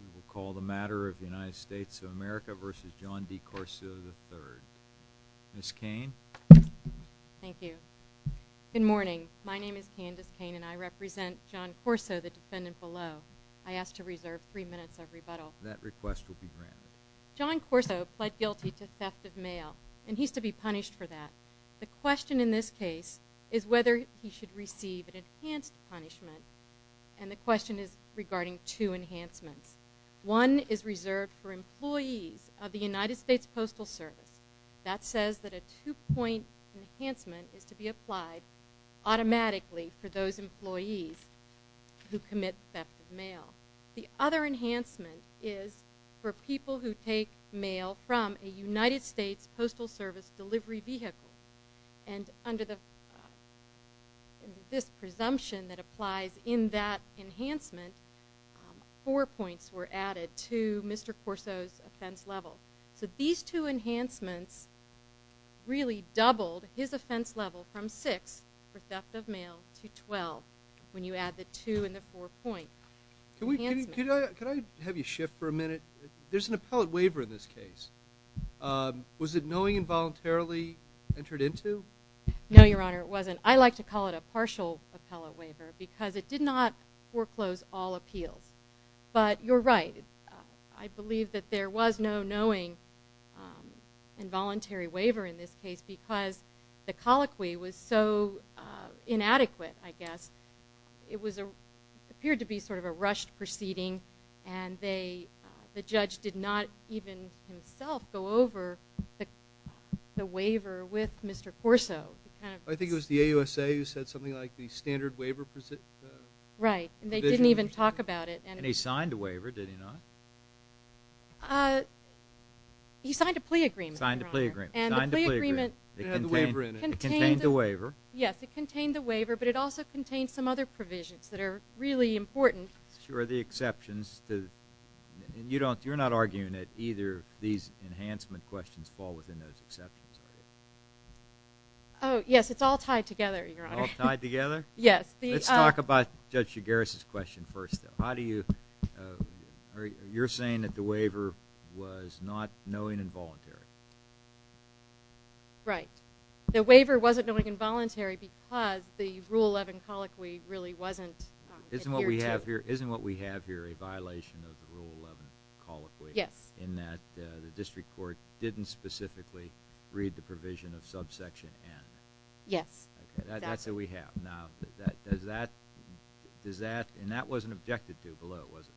We will call the matter of the United States of America v. John D. Corso III. Ms. Cain. Thank you. Good morning. My name is Candace Cain and I represent John Corso, the defendant below. I ask to reserve three minutes of rebuttal. That request will be granted. John Corso pled guilty to theft of mail and he is to be punished for that. The question in this case is whether he should receive an enhanced punishment and the question is regarding two enhancements. One is reserved for employees of the United States Postal Service. That says that a two-point enhancement is to be applied automatically for those employees who commit theft of mail. The other enhancement is for people who take mail from a United States Postal Service delivery vehicle and under this presumption that applies in that enhancement, four points were added to Mr. Corso's offense level. So these two enhancements really doubled his offense level from six for theft of mail to 12 when you add the two and the four points. Can I have you shift for a minute? There's an appellate waiver in this case. Was it knowing involuntarily entered into? No, Your Honor, it wasn't. I like to call it a partial appellate waiver because it did not foreclose all appeals. But you're right. I believe that there was no knowing involuntary waiver in this case because the colloquy was so inadequate, I guess. It appeared to be sort of a rushed proceeding, and the judge did not even himself go over the waiver with Mr. Corso. I think it was the AUSA who said something like the standard waiver provision. Right, and they didn't even talk about it. And he signed a waiver, did he not? He signed a plea agreement, Your Honor. Signed a plea agreement. It had the waiver in it. It contained the waiver. But it also contained some other provisions that are really important. Sure, the exceptions. You're not arguing that either of these enhancement questions fall within those exceptions, are you? Oh, yes, it's all tied together, Your Honor. All tied together? Yes. Let's talk about Judge Shigaris' question first. You're saying that the waiver was not knowing involuntarily. Right. The waiver wasn't knowing involuntarily because the Rule 11 colloquy really wasn't adhered to. Isn't what we have here a violation of the Rule 11 colloquy? Yes. In that the district court didn't specifically read the provision of subsection N? Yes. Okay, that's what we have. Now, does that – and that wasn't objected to below, was it?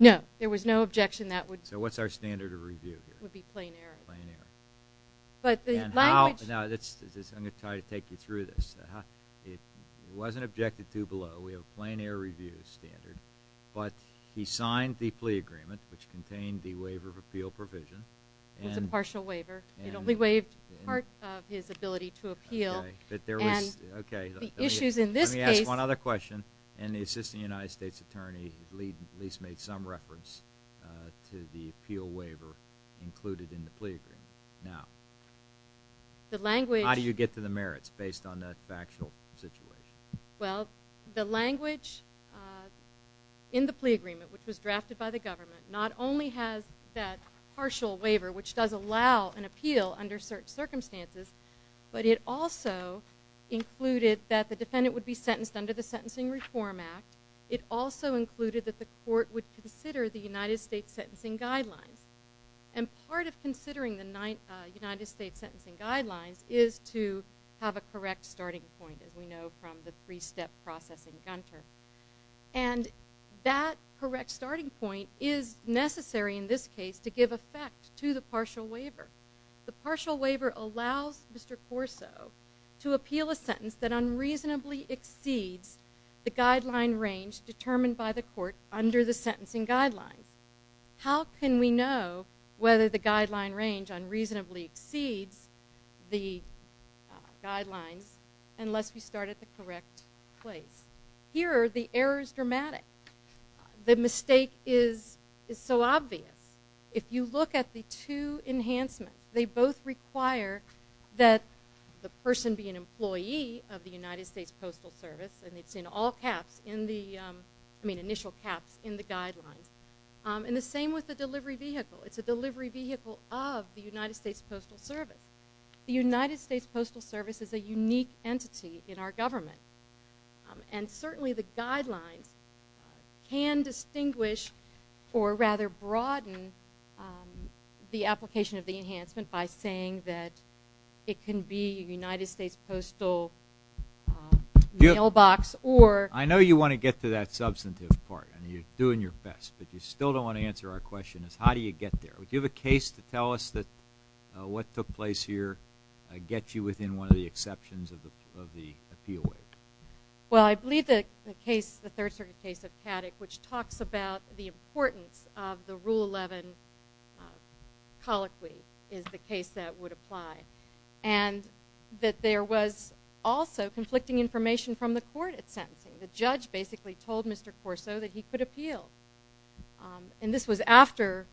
No, there was no objection. So what's our standard of review here? It would be plein air. Plein air. But the language – Now, I'm going to try to take you through this. It wasn't objected to below. We have a plein air review standard. But he signed the plea agreement, which contained the waiver of appeal provision. It was a partial waiver. It only waived part of his ability to appeal. Okay, but there was – okay. The issues in this case – Let me ask one other question. And the assistant United States attorney at least made some reference to the appeal waiver included in the plea agreement. Now, how do you get to the merits based on that factual situation? Well, the language in the plea agreement, which was drafted by the government, not only has that partial waiver, which does allow an appeal under certain circumstances, but it also included that the defendant would be sentenced under the Sentencing Reform Act. It also included that the court would consider the United States sentencing guidelines. And part of considering the United States sentencing guidelines is to have a correct starting point, as we know from the three-step process in Gunter. And that correct starting point is necessary in this case to give effect to the partial waiver. The partial waiver allows Mr. Corso to appeal a sentence that unreasonably exceeds the guideline range determined by the court under the sentencing guidelines. How can we know whether the guideline range unreasonably exceeds the guidelines unless we start at the correct place? Here, the error is dramatic. The mistake is so obvious. If you look at the two enhancements, they both require that the person be an employee of the United States Postal Service, and it's in all caps, I mean initial caps, in the guidelines. And the same with the delivery vehicle. It's a delivery vehicle of the United States Postal Service. The United States Postal Service is a unique entity in our government. And certainly the guidelines can distinguish or rather broaden the application of the enhancement by saying that it can be a United States Postal mailbox or. I know you want to get to that substantive part, and you're doing your best, but you still don't want to answer our question is how do you get there? Do you have a case to tell us that what took place here gets you within one of the exceptions of the appeal wave? Well, I believe the case, the Third Circuit case of Paddock, which talks about the importance of the Rule 11 colloquy is the case that would apply, and that there was also conflicting information from the court at sentencing. The judge basically told Mr. Corso that he could appeal. And this was after.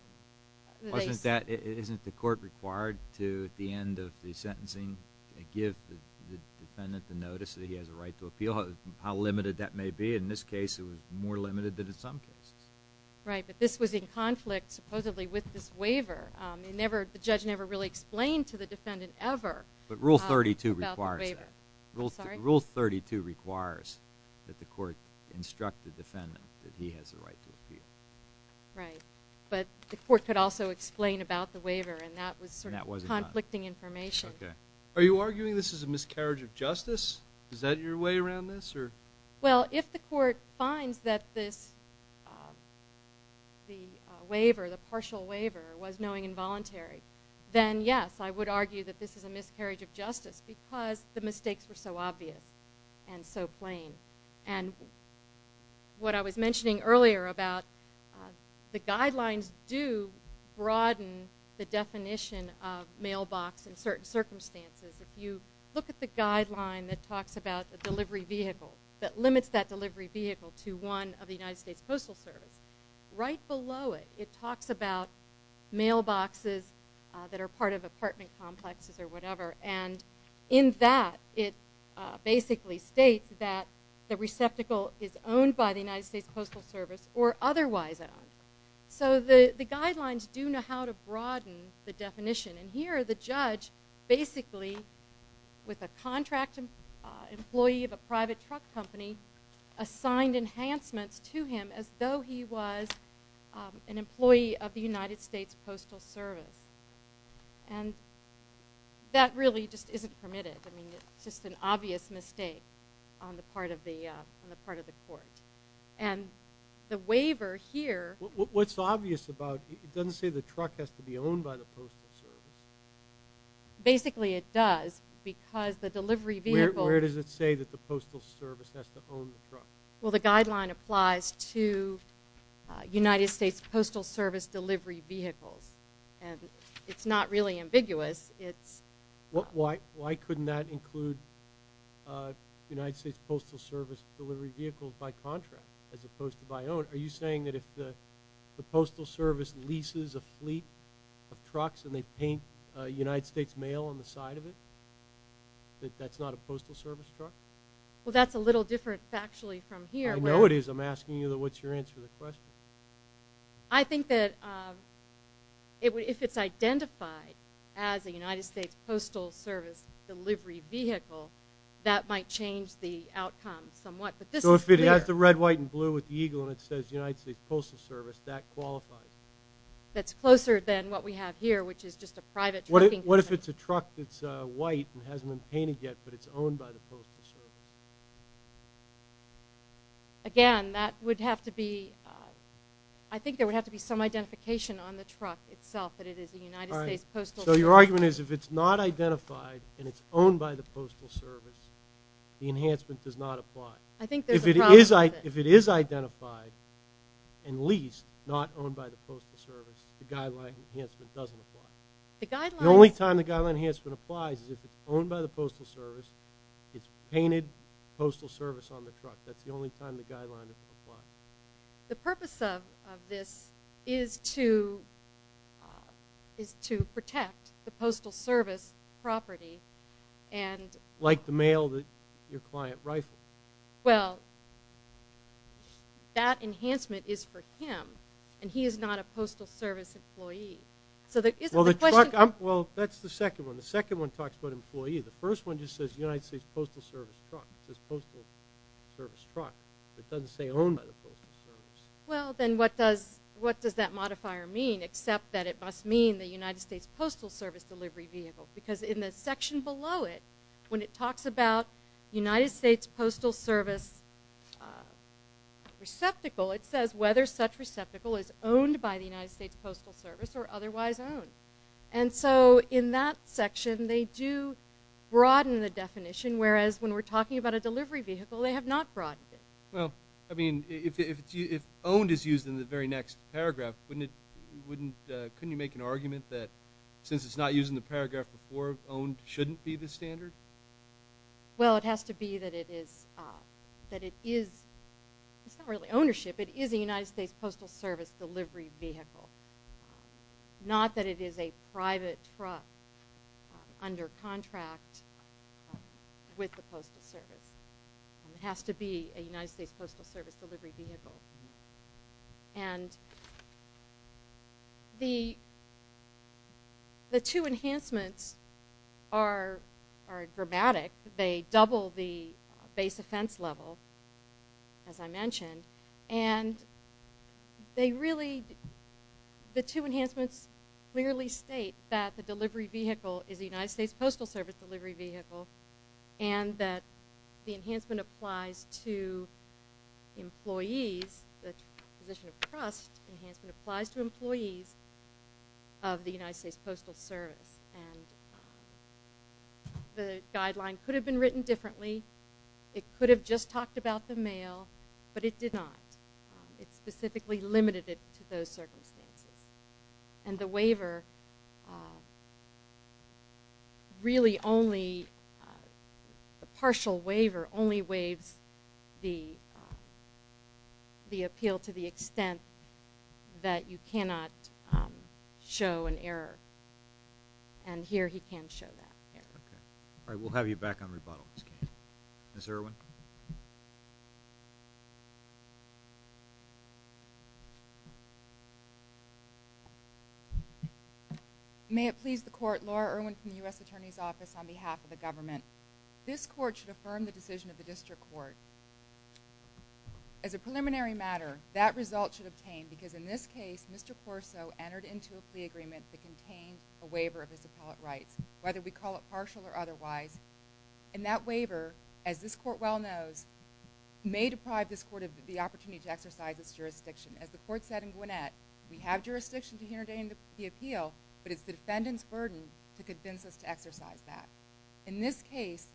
Isn't the court required to at the end of the sentencing give the defendant the notice that he has a right to appeal? How limited that may be. In this case it was more limited than in some cases. Right, but this was in conflict supposedly with this waiver. The judge never really explained to the defendant ever about the waiver. But Rule 32 requires that. I'm sorry? Right, but the court could also explain about the waiver, and that was sort of conflicting information. Are you arguing this is a miscarriage of justice? Is that your way around this? Well, if the court finds that this waiver, the partial waiver, was knowing involuntary, then yes, I would argue that this is a miscarriage of justice because the mistakes were so obvious and so plain. And what I was mentioning earlier about the guidelines do broaden the definition of mailbox in certain circumstances. If you look at the guideline that talks about the delivery vehicle, that limits that delivery vehicle to one of the United States Postal Service, right below it it talks about mailboxes that are part of apartment complexes or whatever. And in that it basically states that the receptacle is owned by the United States Postal Service or otherwise owned. So the guidelines do know how to broaden the definition. And here the judge basically, with a contract employee of a private truck company, assigned enhancements to him as though he was an employee of the United States Postal Service. And that really just isn't permitted. I mean, it's just an obvious mistake on the part of the court. And the waiver here – What's obvious about – it doesn't say the truck has to be owned by the Postal Service. Basically it does because the delivery vehicle – Where does it say that the Postal Service has to own the truck? Well, the guideline applies to United States Postal Service delivery vehicles. And it's not really ambiguous. Why couldn't that include United States Postal Service delivery vehicles by contract as opposed to by own? Are you saying that if the Postal Service leases a fleet of trucks and they paint United States mail on the side of it, that that's not a Postal Service truck? Well, that's a little different factually from here. I know it is. I'm asking you what's your answer to the question. I think that if it's identified as a United States Postal Service delivery vehicle, that might change the outcome somewhat. So if it has the red, white, and blue with the eagle and it says United States Postal Service, that qualifies? That's closer than what we have here, which is just a private truck. In fact, it's white and hasn't been painted yet, but it's owned by the Postal Service. Again, that would have to be – I think there would have to be some identification on the truck itself that it is a United States Postal Service. So your argument is if it's not identified and it's owned by the Postal Service, the enhancement does not apply. I think there's a problem with it. If it is identified and leased, not owned by the Postal Service, the guideline enhancement doesn't apply. The only time the guideline enhancement applies is if it's owned by the Postal Service, it's painted Postal Service on the truck. That's the only time the guideline applies. The purpose of this is to protect the Postal Service property. Like the mail that your client rifles. Well, that enhancement is for him, and he is not a Postal Service employee. Well, that's the second one. The second one talks about employee. The first one just says United States Postal Service truck. It says Postal Service truck. It doesn't say owned by the Postal Service. Well, then what does that modifier mean, except that it must mean the United States Postal Service delivery vehicle? Because in the section below it, when it talks about United States Postal Service receptacle, it says whether such receptacle is owned by the United States Postal Service or otherwise owned. And so in that section, they do broaden the definition, whereas when we're talking about a delivery vehicle, they have not broadened it. Well, I mean, if owned is used in the very next paragraph, couldn't you make an argument that since it's not used in the paragraph before, owned shouldn't be the standard? Well, it has to be that it is not really ownership. It is a United States Postal Service delivery vehicle, not that it is a private truck under contract with the Postal Service. It has to be a United States Postal Service delivery vehicle. And the two enhancements are dramatic. They double the base offense level, as I mentioned. And they really, the two enhancements clearly state that the delivery vehicle is a United States Postal Service delivery vehicle and that the enhancement applies to employees, the position of trust enhancement applies to employees of the United States Postal Service. And the guideline could have been written differently. It could have just talked about the mail, but it did not. It specifically limited it to those circumstances. And the waiver really only, the partial waiver only waives the appeal to the extent that you cannot show an error. And here he can show that error. All right, we'll have you back on rebuttal. Ms. Irwin? May it please the Court, Laura Irwin from the U.S. Attorney's Office, on behalf of the government. This Court should affirm the decision of the District Court. As a preliminary matter, that result should obtain, because in this case, Mr. Corso entered into a plea agreement that contained a waiver of his appellate rights, whether we call it partial or otherwise. And that waiver, as this Court well knows, may deprive this Court of the opportunity to exercise its jurisdiction. As the Court said in Gwinnett, we have jurisdiction to hinder the appeal, but it's the defendant's burden to convince us to exercise that. In this case,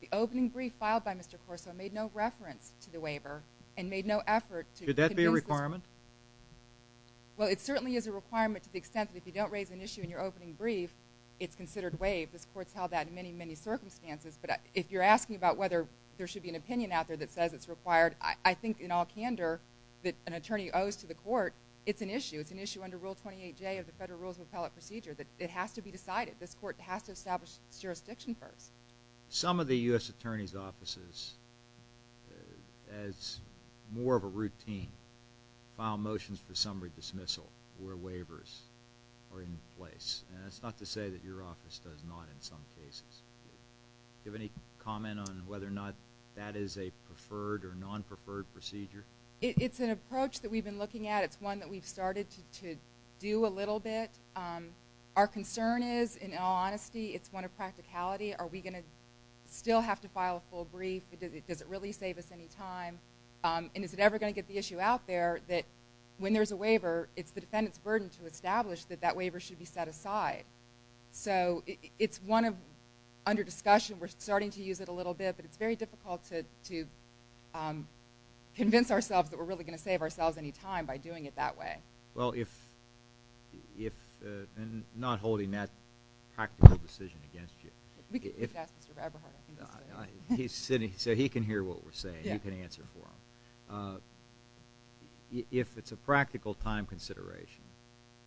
the opening brief filed by Mr. Corso made no reference to the waiver and made no effort to convince us. Could that be a requirement? Well, it certainly is a requirement to the extent that if you don't raise an issue in your opening brief, it's considered waived. This Court's held that in many, many circumstances. But if you're asking about whether there should be an opinion out there that says it's required, I think in all candor that an attorney owes to the Court, it's an issue. It's an issue under Rule 28J of the Federal Rules of Appellate Procedure. It has to be decided. This Court has to establish its jurisdiction first. Some of the U.S. Attorney's offices, as more of a routine, file motions for summary dismissal where waivers are in place. And that's not to say that your office does not in some cases. Do you have any comment on whether or not that is a preferred or non-preferred procedure? It's an approach that we've been looking at. It's one that we've started to do a little bit. Our concern is, in all honesty, it's one of practicality. Are we going to still have to file a full brief? Does it really save us any time? And is it ever going to get the issue out there that when there's a waiver, it's the defendant's burden to establish that that waiver should be set aside. So it's one under discussion. We're starting to use it a little bit, but it's very difficult to convince ourselves that we're really going to save ourselves any time by doing it that way. Well, if, and not holding that practical decision against you. We can ask Mr. Eberhardt. He's sitting, so he can hear what we're saying. You can answer for him. If it's a practical time consideration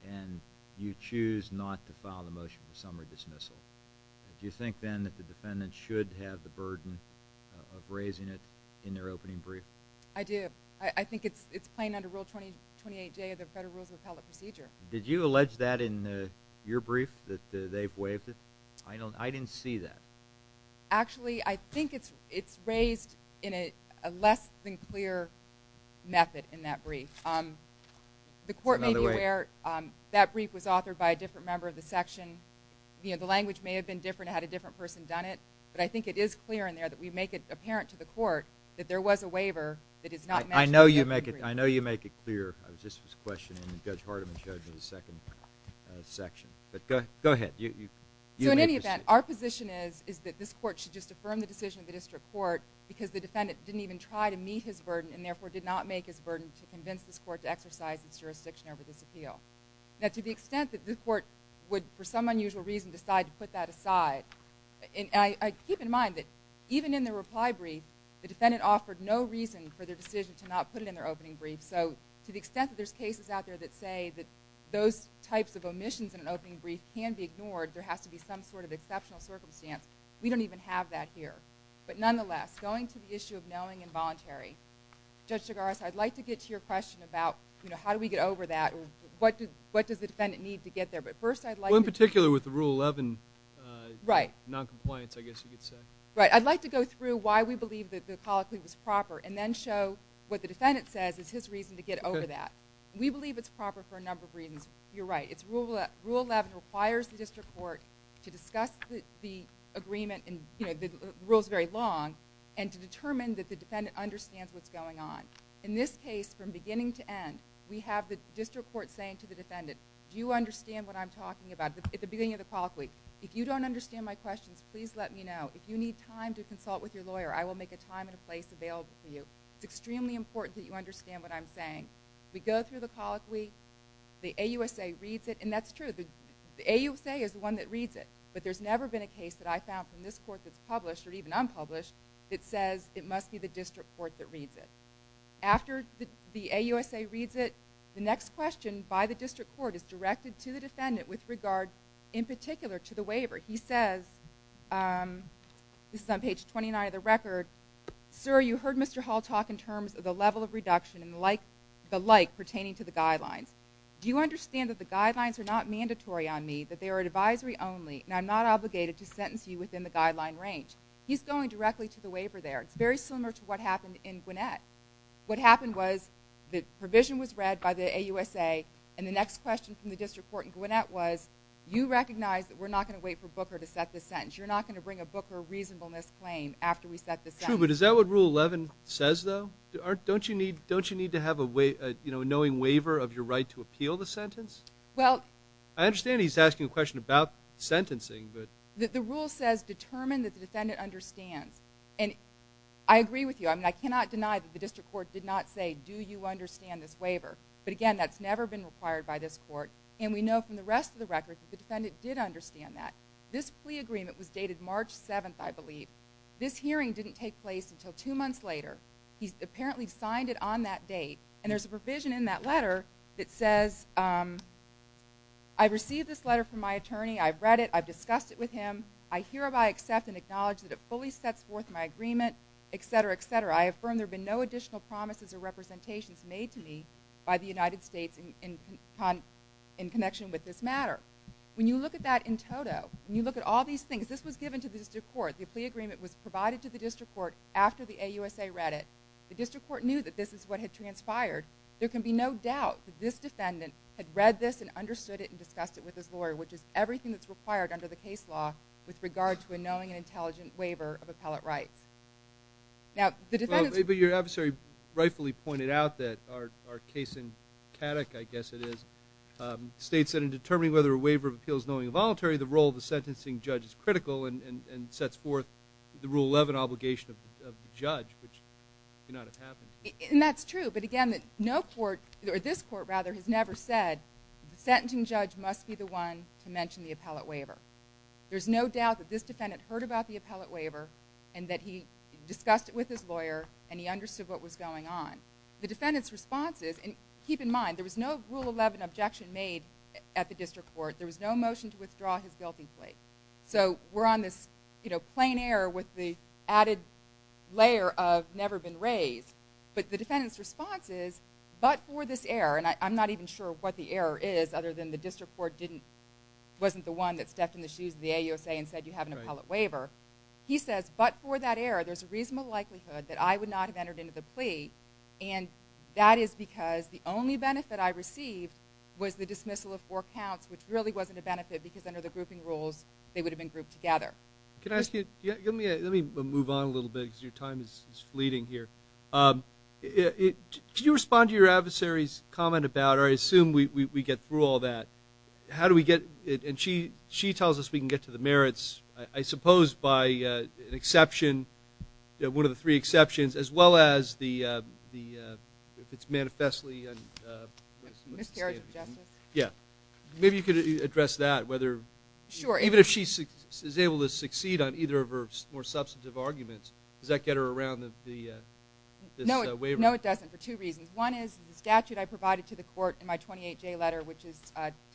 and you choose not to file the motion for summary dismissal, do you think then that the defendant should have the burden of raising it in their opening brief? I do. I think it's plain under Rule 28J of the Federal Rules of Appellate Procedure. Did you allege that in your brief, that they've waived it? I didn't see that. Actually, I think it's raised in a less-than-clear method in that brief. The court may be aware that brief was authored by a different member of the section. The language may have been different. It had a different person done it. But I think it is clear in there that we make it apparent to the court that there was a waiver that is not mentioned in the brief. I know you make it clear. I was just questioning, and Judge Hardiman showed me the second section. But go ahead. In any event, our position is that this court should just affirm the decision of the district court because the defendant didn't even try to meet his burden and therefore did not make his burden to convince this court to exercise its jurisdiction over this appeal. To the extent that this court would, for some unusual reason, decide to put that aside, keep in mind that even in the reply brief, the defendant offered no reason for their decision to not put it in their opening brief. So to the extent that there's cases out there that say that those types of omissions in an opening brief can be ignored, there has to be some sort of exceptional circumstance. We don't even have that here. But nonetheless, going to the issue of knowing and voluntary, Judge DeGarza, I'd like to get to your question about, you know, how do we get over that or what does the defendant need to get there. But first I'd like to... Well, in particular with the Rule 11 noncompliance, I guess you could say. Right. I'd like to go through why we believe that the colloquy was proper and then show what the defendant says is his reason to get over that. Okay. We believe it's proper for a number of reasons. You're right. It's Rule 11 requires the district court to discuss the agreement and, you know, the rule's very long and to determine that the defendant understands what's going on. In this case, from beginning to end, we have the district court saying to the defendant, do you understand what I'm talking about at the beginning of the colloquy? If you don't understand my questions, please let me know. If you need time to consult with your lawyer, I will make a time and a place available for you. It's extremely important that you understand what I'm saying. We go through the colloquy, the AUSA reads it, and that's true. The AUSA is the one that reads it, but there's never been a case that I found from this court that's published or even unpublished that says it must be the district court that reads it. After the AUSA reads it, the next question by the district court is directed to the defendant with regard, in particular, to the waiver. He says, this is on page 29 of the record, sir, you heard Mr. Hall talk in terms of the level of reduction and the like pertaining to the guidelines. Do you understand that the guidelines are not mandatory on me, that they are advisory only, and I'm not obligated to sentence you within the guideline range? He's going directly to the waiver there. It's very similar to what happened in Gwinnett. What happened was the provision was read by the AUSA, and the next question from the district court in Gwinnett was, you recognize that we're not going to wait for Booker to set the sentence. You're not going to bring a Booker reasonableness claim after we set the sentence. True, but is that what Rule 11 says, though? Don't you need to have a knowing waiver of your right to appeal the sentence? Well... I understand he's asking a question about sentencing, but... The rule says, determine that the defendant understands. And I agree with you. I mean, I cannot deny that the district court did not say, do you understand this waiver? But again, that's never been required by this court. And we know from the rest of the record that the defendant did understand that. This plea agreement was dated March 7th, I believe. This hearing didn't take place until two months later. He apparently signed it on that date. And there's a provision in that letter that says, I received this letter from my attorney, I've read it, I've discussed it with him, I hereby accept and acknowledge that it fully sets forth my agreement, etc., etc. I affirm there have been no additional promises or representations made to me by the United States in connection with this matter. When you look at that in toto, when you look at all these things, this was given to the district court. The plea agreement was provided to the district court after the AUSA read it. The district court knew that this is what had transpired. There can be no doubt that this defendant had read this and understood it and discussed it with his lawyer, which is everything that's required under the case law with regard to a knowing and intelligent waiver of appellate rights. Your adversary rightfully pointed out that our case in Caddock, I guess it is, states that in determining whether a waiver of appeal is knowing and voluntary, the role of the sentencing judge is critical and sets forth the Rule 11 obligation of the judge, which may not have happened. And that's true. But again, this court has never said, the sentencing judge must be the one to mention the appellate waiver. There's no doubt that this defendant heard about the appellate waiver and that he discussed it with his lawyer and he understood what was going on. The defendant's response is, and keep in mind, there was no Rule 11 objection made at the district court. There was no motion to withdraw his guilty plea. So we're on this plain error with the added layer of never been raised. But the defendant's response is, but for this error, and I'm not even sure what the error is other than the district court wasn't the one that stepped in the shoes of the AUSA and said you have an appellate waiver. He says, but for that error, there's a reasonable likelihood that I would not have entered into the plea, and that is because the only benefit I received was the dismissal of four counts, which really wasn't a benefit because under the grouping rules, they would have been grouped together. Let me move on a little bit because your time is fleeting here. Could you respond to your adversary's comment about, or I assume we get through all that, how do we get, and she tells us we can get to the merits, I suppose by an exception, one of the three exceptions, as well as if it's manifestly a miscarriage of justice. Yeah. Maybe you could address that, whether, even if she is able to succeed on either of her more substantive arguments, does that get her around this waiver? No, it doesn't for two reasons. One is the statute I provided to the court in my 28J letter, which is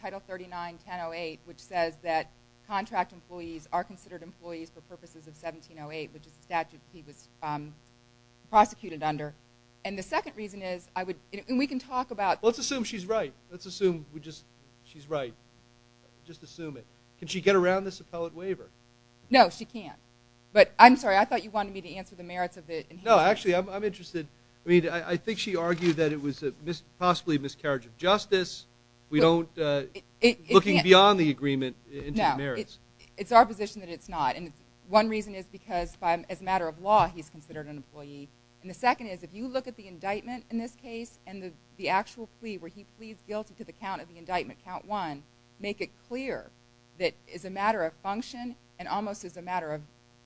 Title 39-1008, which says that contract employees are considered employees for purposes of 1708, which is the statute he was prosecuted under. And the second reason is I would, and we can talk about. Let's assume she's right. Let's assume she's right. Just assume it. Can she get around this appellate waiver? No, she can't. But I'm sorry, I thought you wanted me to answer the merits of it. No, actually, I'm interested. I mean, I think she argued that it was possibly a miscarriage of justice. We don't, looking beyond the agreement into the merits. No, it's our position that it's not. And one reason is because as a matter of law, he's considered an employee. And the second is if you look at the indictment in this case and the actual plea where he pleads guilty to the count of the indictment, count one, make it clear that as a matter of function and almost as a matter of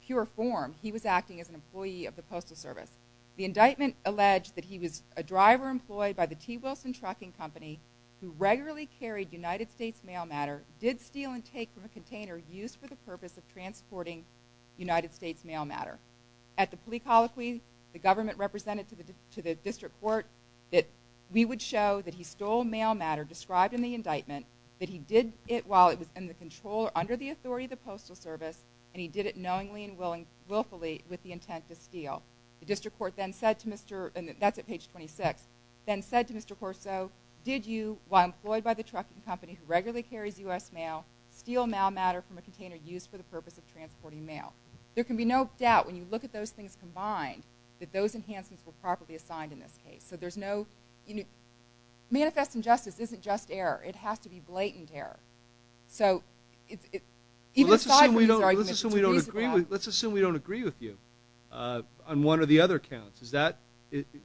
pure form, he was acting as an employee of the Postal Service. The indictment alleged that he was a driver employed by the T. Wilson Trucking Company who regularly carried United States mail matter, did steal and take from a container used for the purpose of transporting United States mail matter. At the plea colloquy, the government represented to the district court that we would show that he stole mail matter described in the indictment, that he did it while it was under the authority of the Postal Service, and he did it knowingly and willfully with the intent to steal. The district court then said to Mr. – and that's at page 26 – then said to Mr. Corso, did you, while employed by the trucking company who regularly carries U.S. mail, steal mail matter from a container used for the purpose of transporting mail? There can be no doubt when you look at those things combined that those enhancements were properly assigned in this case. So there's no – manifest injustice isn't just error. It has to be blatant error. Let's assume we don't agree with you on one or the other counts.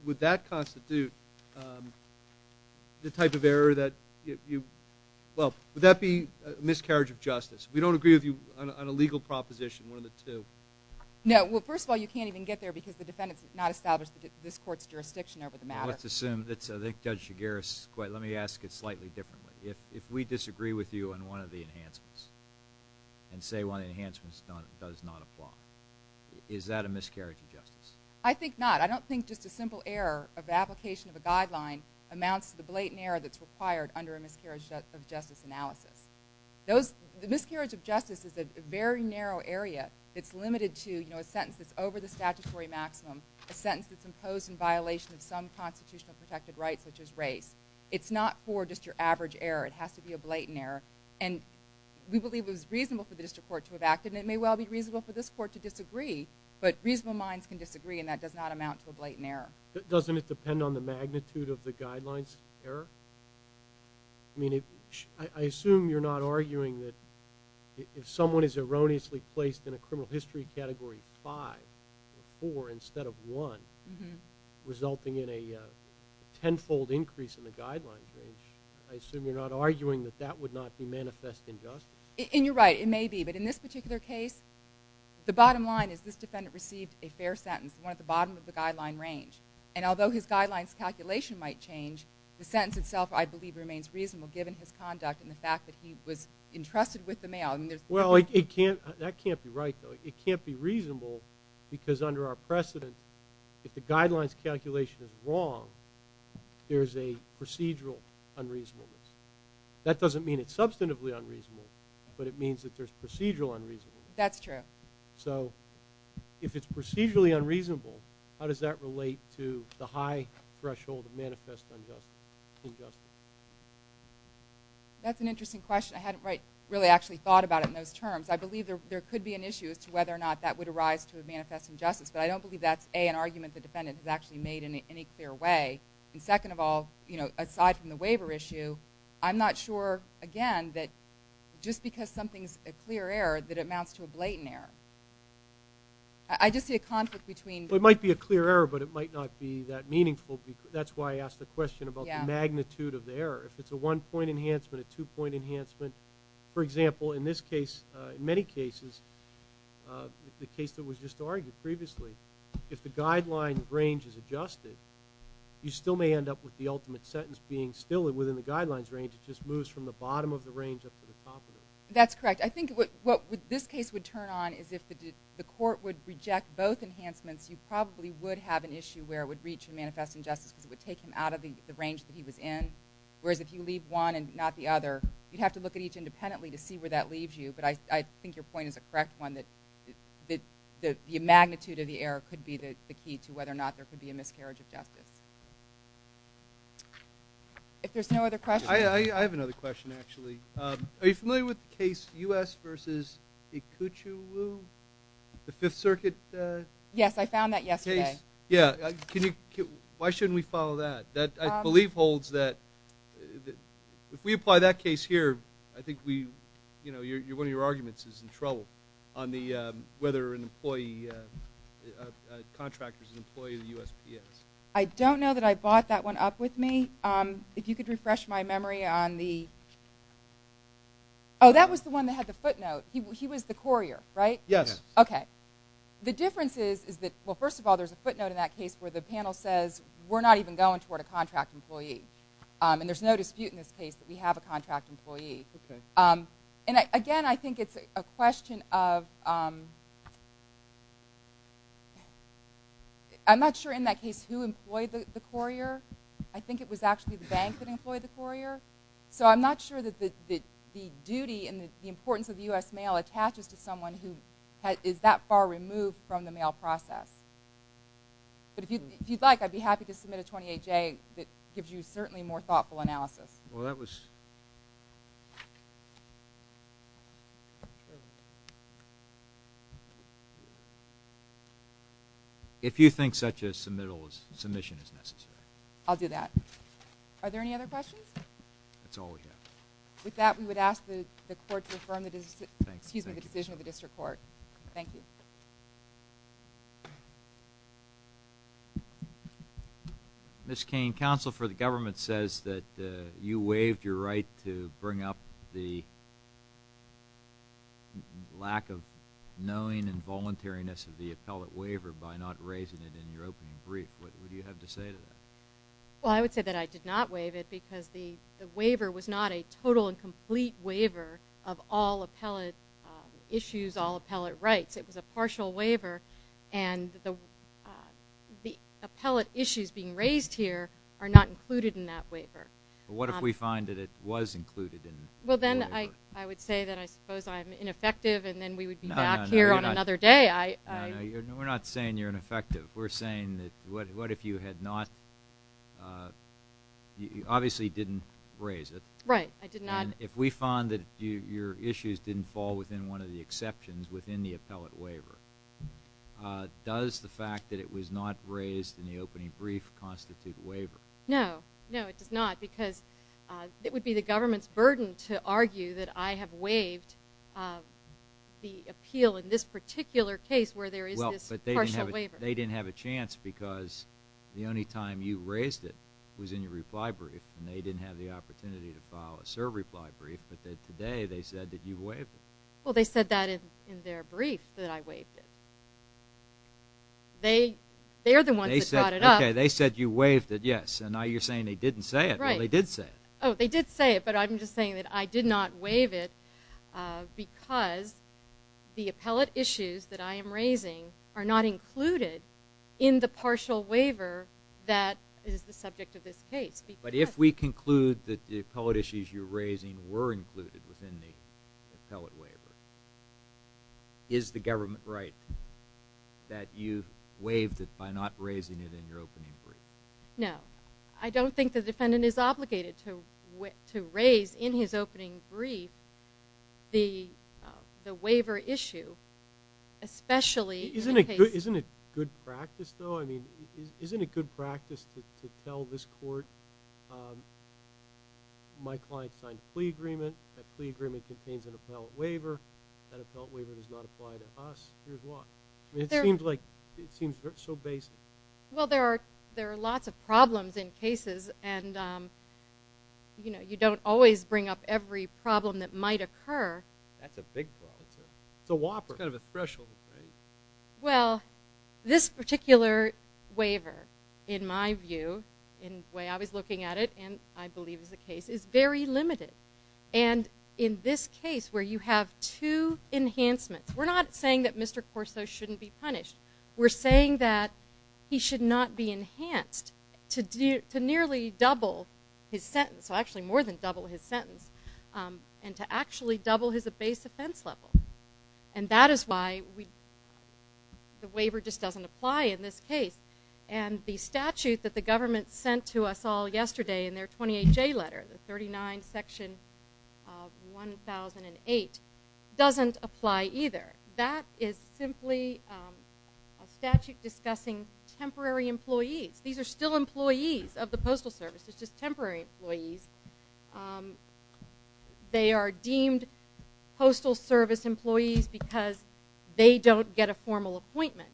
Would that constitute the type of error that you – well, would that be miscarriage of justice? We don't agree with you on a legal proposition, one of the two. No. Well, first of all, you can't even get there because the defendant has not established this court's jurisdiction over the matter. Let's assume – Judge Shigaris, let me ask it slightly differently. If we disagree with you on one of the enhancements and say one of the enhancements does not apply, is that a miscarriage of justice? I think not. I don't think just a simple error of application of a guideline amounts to the blatant error that's required under a miscarriage of justice analysis. The miscarriage of justice is a very narrow area. It's limited to a sentence that's over the statutory maximum, a sentence that's imposed in violation of some constitutional protected rights, such as race. It's not for just your average error. It has to be a blatant error. And we believe it was reasonable for the district court to have acted, and it may well be reasonable for this court to disagree, but reasonable minds can disagree, and that does not amount to a blatant error. Doesn't it depend on the magnitude of the guideline's error? I mean, I assume you're not arguing that if someone is erroneously placed in a criminal history category 5 or 4 instead of 1, resulting in a tenfold increase in the guideline's range, I assume you're not arguing that that would not be manifest injustice. And you're right. It may be, but in this particular case, the bottom line is this defendant received a fair sentence, the one at the bottom of the guideline range. And although his guideline's calculation might change, the sentence itself I believe remains reasonable given his conduct and the fact that he was entrusted with the mail. Well, that can't be right, though. It can't be reasonable because under our precedent, if the guideline's calculation is wrong, there's a procedural unreasonableness. That doesn't mean it's substantively unreasonable, but it means that there's procedural unreasonableness. That's true. So if it's procedurally unreasonable, how does that relate to the high threshold of manifest injustice? That's an interesting question. I hadn't really actually thought about it in those terms. I believe there could be an issue as to whether or not that would arise to a manifest injustice, but I don't believe that's, A, an argument the defendant has actually made in any clear way. And second of all, aside from the waiver issue, I'm not sure, again, that just because something's a clear error that it amounts to a blatant error. I just see a conflict between. Well, it might be a clear error, but it might not be that meaningful. That's why I asked the question about the magnitude of the error. If it's a one-point enhancement, a two-point enhancement, for example, in this case, in many cases, the case that was just argued previously, if the guideline range is adjusted, you still may end up with the ultimate sentence being still within the guidelines range. It just moves from the bottom of the range up to the top of it. That's correct. I think what this case would turn on is if the court would reject both enhancements, you probably would have an issue where it would reach a manifest injustice because it would take him out of the range that he was in, whereas if you leave one and not the other, you'd have to look at each independently to see where that leaves you. But I think your point is a correct one, that the magnitude of the error could be the key to whether or not there could be a miscarriage of justice. If there's no other questions. I have another question, actually. Are you familiar with the case U.S. versus Ikeuchiwu, the Fifth Circuit? Yes, I found that yesterday. Yeah. Why shouldn't we follow that? That, I believe, holds that if we apply that case here, I think one of your arguments is in trouble on whether a contractor is an employee of the USPS. I don't know that I bought that one up with me. If you could refresh my memory on the – oh, that was the one that had the footnote. He was the courier, right? Yes. Okay. The difference is that, well, first of all, there's a footnote in that case where the panel says we're not even going toward a contract employee. And there's no dispute in this case that we have a contract employee. Okay. And, again, I think it's a question of – I'm not sure in that case who employed the courier. I think it was actually the bank that employed the courier. So I'm not sure that the duty and the importance of the U.S. mail attaches to someone who is that far removed from the mail process. But if you'd like, I'd be happy to submit a 28-J that gives you certainly more thoughtful analysis. Well, that was – If you think such a submission is necessary. I'll do that. Are there any other questions? That's all we have. Thank you. Thank you. Ms. Cain, Counsel for the Government says that you waived your right to bring up the lack of knowing and voluntariness of the appellate waiver by not raising it in your opening brief. What would you have to say to that? Well, I would say that I did not waive it because the waiver was not a total and complete waiver of all appellate issues, all appellate rights. It was a partial waiver, and the appellate issues being raised here are not included in that waiver. What if we find that it was included in the waiver? Well, then I would say that I suppose I'm ineffective, and then we would be back here on another day. No, no, we're not saying you're ineffective. We're saying that what if you had not – you obviously didn't raise it. Right, I did not. And if we find that your issues didn't fall within one of the exceptions within the appellate waiver, does the fact that it was not raised in the opening brief constitute a waiver? No, no, it does not because it would be the government's burden to argue that I have waived the appeal in this particular case where there is this partial waiver. Well, but they didn't have a chance because the only time you raised it was in your reply brief, and they didn't have the opportunity to file a serve reply brief, but today they said that you waived it. Well, they said that in their brief that I waived it. They are the ones that brought it up. Okay, they said you waived it, yes, and now you're saying they didn't say it. Well, they did say it. Oh, they did say it, but I'm just saying that I did not waive it because the appellate issues that I am raising are not included in the partial waiver that is the subject of this case. But if we conclude that the appellate issues you're raising were included within the appellate waiver, is the government right that you waived it by not raising it in your opening brief? No. I don't think the defendant is obligated to raise in his opening brief the waiver issue, especially in this case. Isn't it good practice, though? I mean, isn't it good practice to tell this court, my client signed a plea agreement. That plea agreement contains an appellate waiver. That appellate waiver does not apply to us. Here's why. It seems so basic. Well, there are lots of problems in cases, and you don't always bring up every problem that might occur. That's a big problem. It's a whopper. It's kind of a threshold, right? Well, this particular waiver, in my view, in the way I was looking at it, and I believe is the case, is very limited. And in this case where you have two enhancements, we're not saying that Mr. Corso shouldn't be punished. We're saying that he should not be enhanced to nearly double his sentence, well, actually more than double his sentence, and to actually double his base offense level. And that is why the waiver just doesn't apply in this case. And the statute that the government sent to us all yesterday in their 28J letter, the 39 Section 1008, doesn't apply either. That is simply a statute discussing temporary employees. These are still employees of the Postal Service. It's just temporary employees. They are deemed Postal Service employees because they don't get a formal appointment.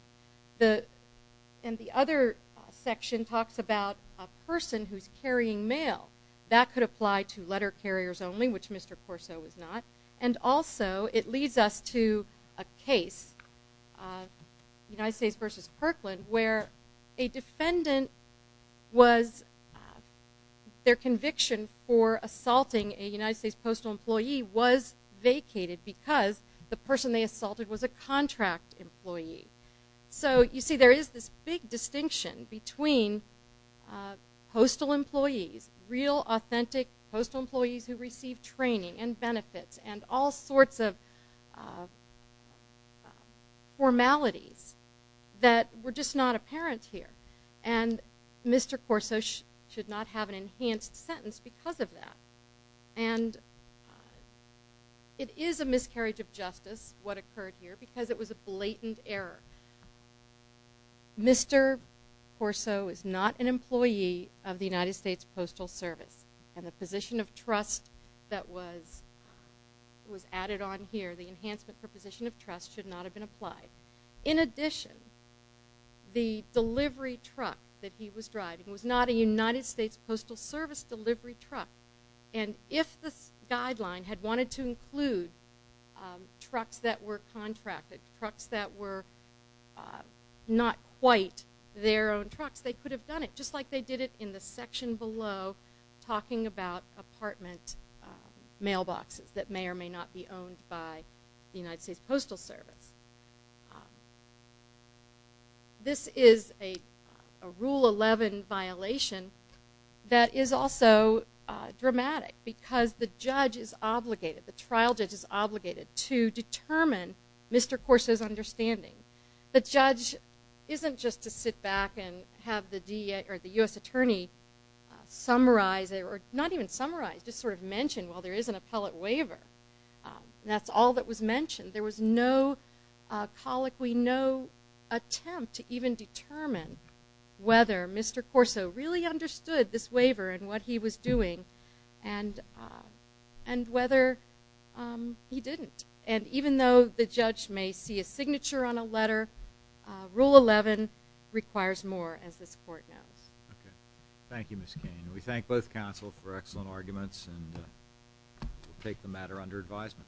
And the other section talks about a person who's carrying mail. That could apply to letter carriers only, which Mr. Corso is not. And also, it leads us to a case, United States versus Kirkland, where a defendant was, their conviction for assaulting a United States postal employee was vacated because the person they assaulted was a contract employee. So, you see, there is this big distinction between postal employees, real authentic postal employees who receive training and benefits, and all sorts of formalities that were just not apparent here. And Mr. Corso should not have an enhanced sentence because of that. And it is a miscarriage of justice, what occurred here, because it was a blatant error. Mr. Corso is not an employee of the United States Postal Service. And the position of trust that was added on here, the enhancement for position of trust, should not have been applied. In addition, the delivery truck that he was driving was not a United States Postal Service delivery truck. And if this guideline had wanted to include trucks that were contracted, trucks that were not quite their own trucks, they could have done it, just like they did it in the section below talking about apartment mailboxes that may or may not be owned by the United States Postal Service. This is a Rule 11 violation that is also dramatic because the judge is obligated, the trial judge is obligated to determine Mr. Corso's understanding. The judge isn't just to sit back and have the U.S. Attorney summarize, or not even summarize, just sort of mention, well, there is an appellate waiver. That's all that was mentioned. There was no colloquy, no attempt to even determine whether Mr. Corso really understood this waiver and what he was doing and whether he didn't. And even though the judge may see a signature on a letter, Rule 11 requires more, as this court knows. Okay. Thank you, Ms. Cain. We thank both counsel for excellent arguments and take the matter under advisement. Thank you.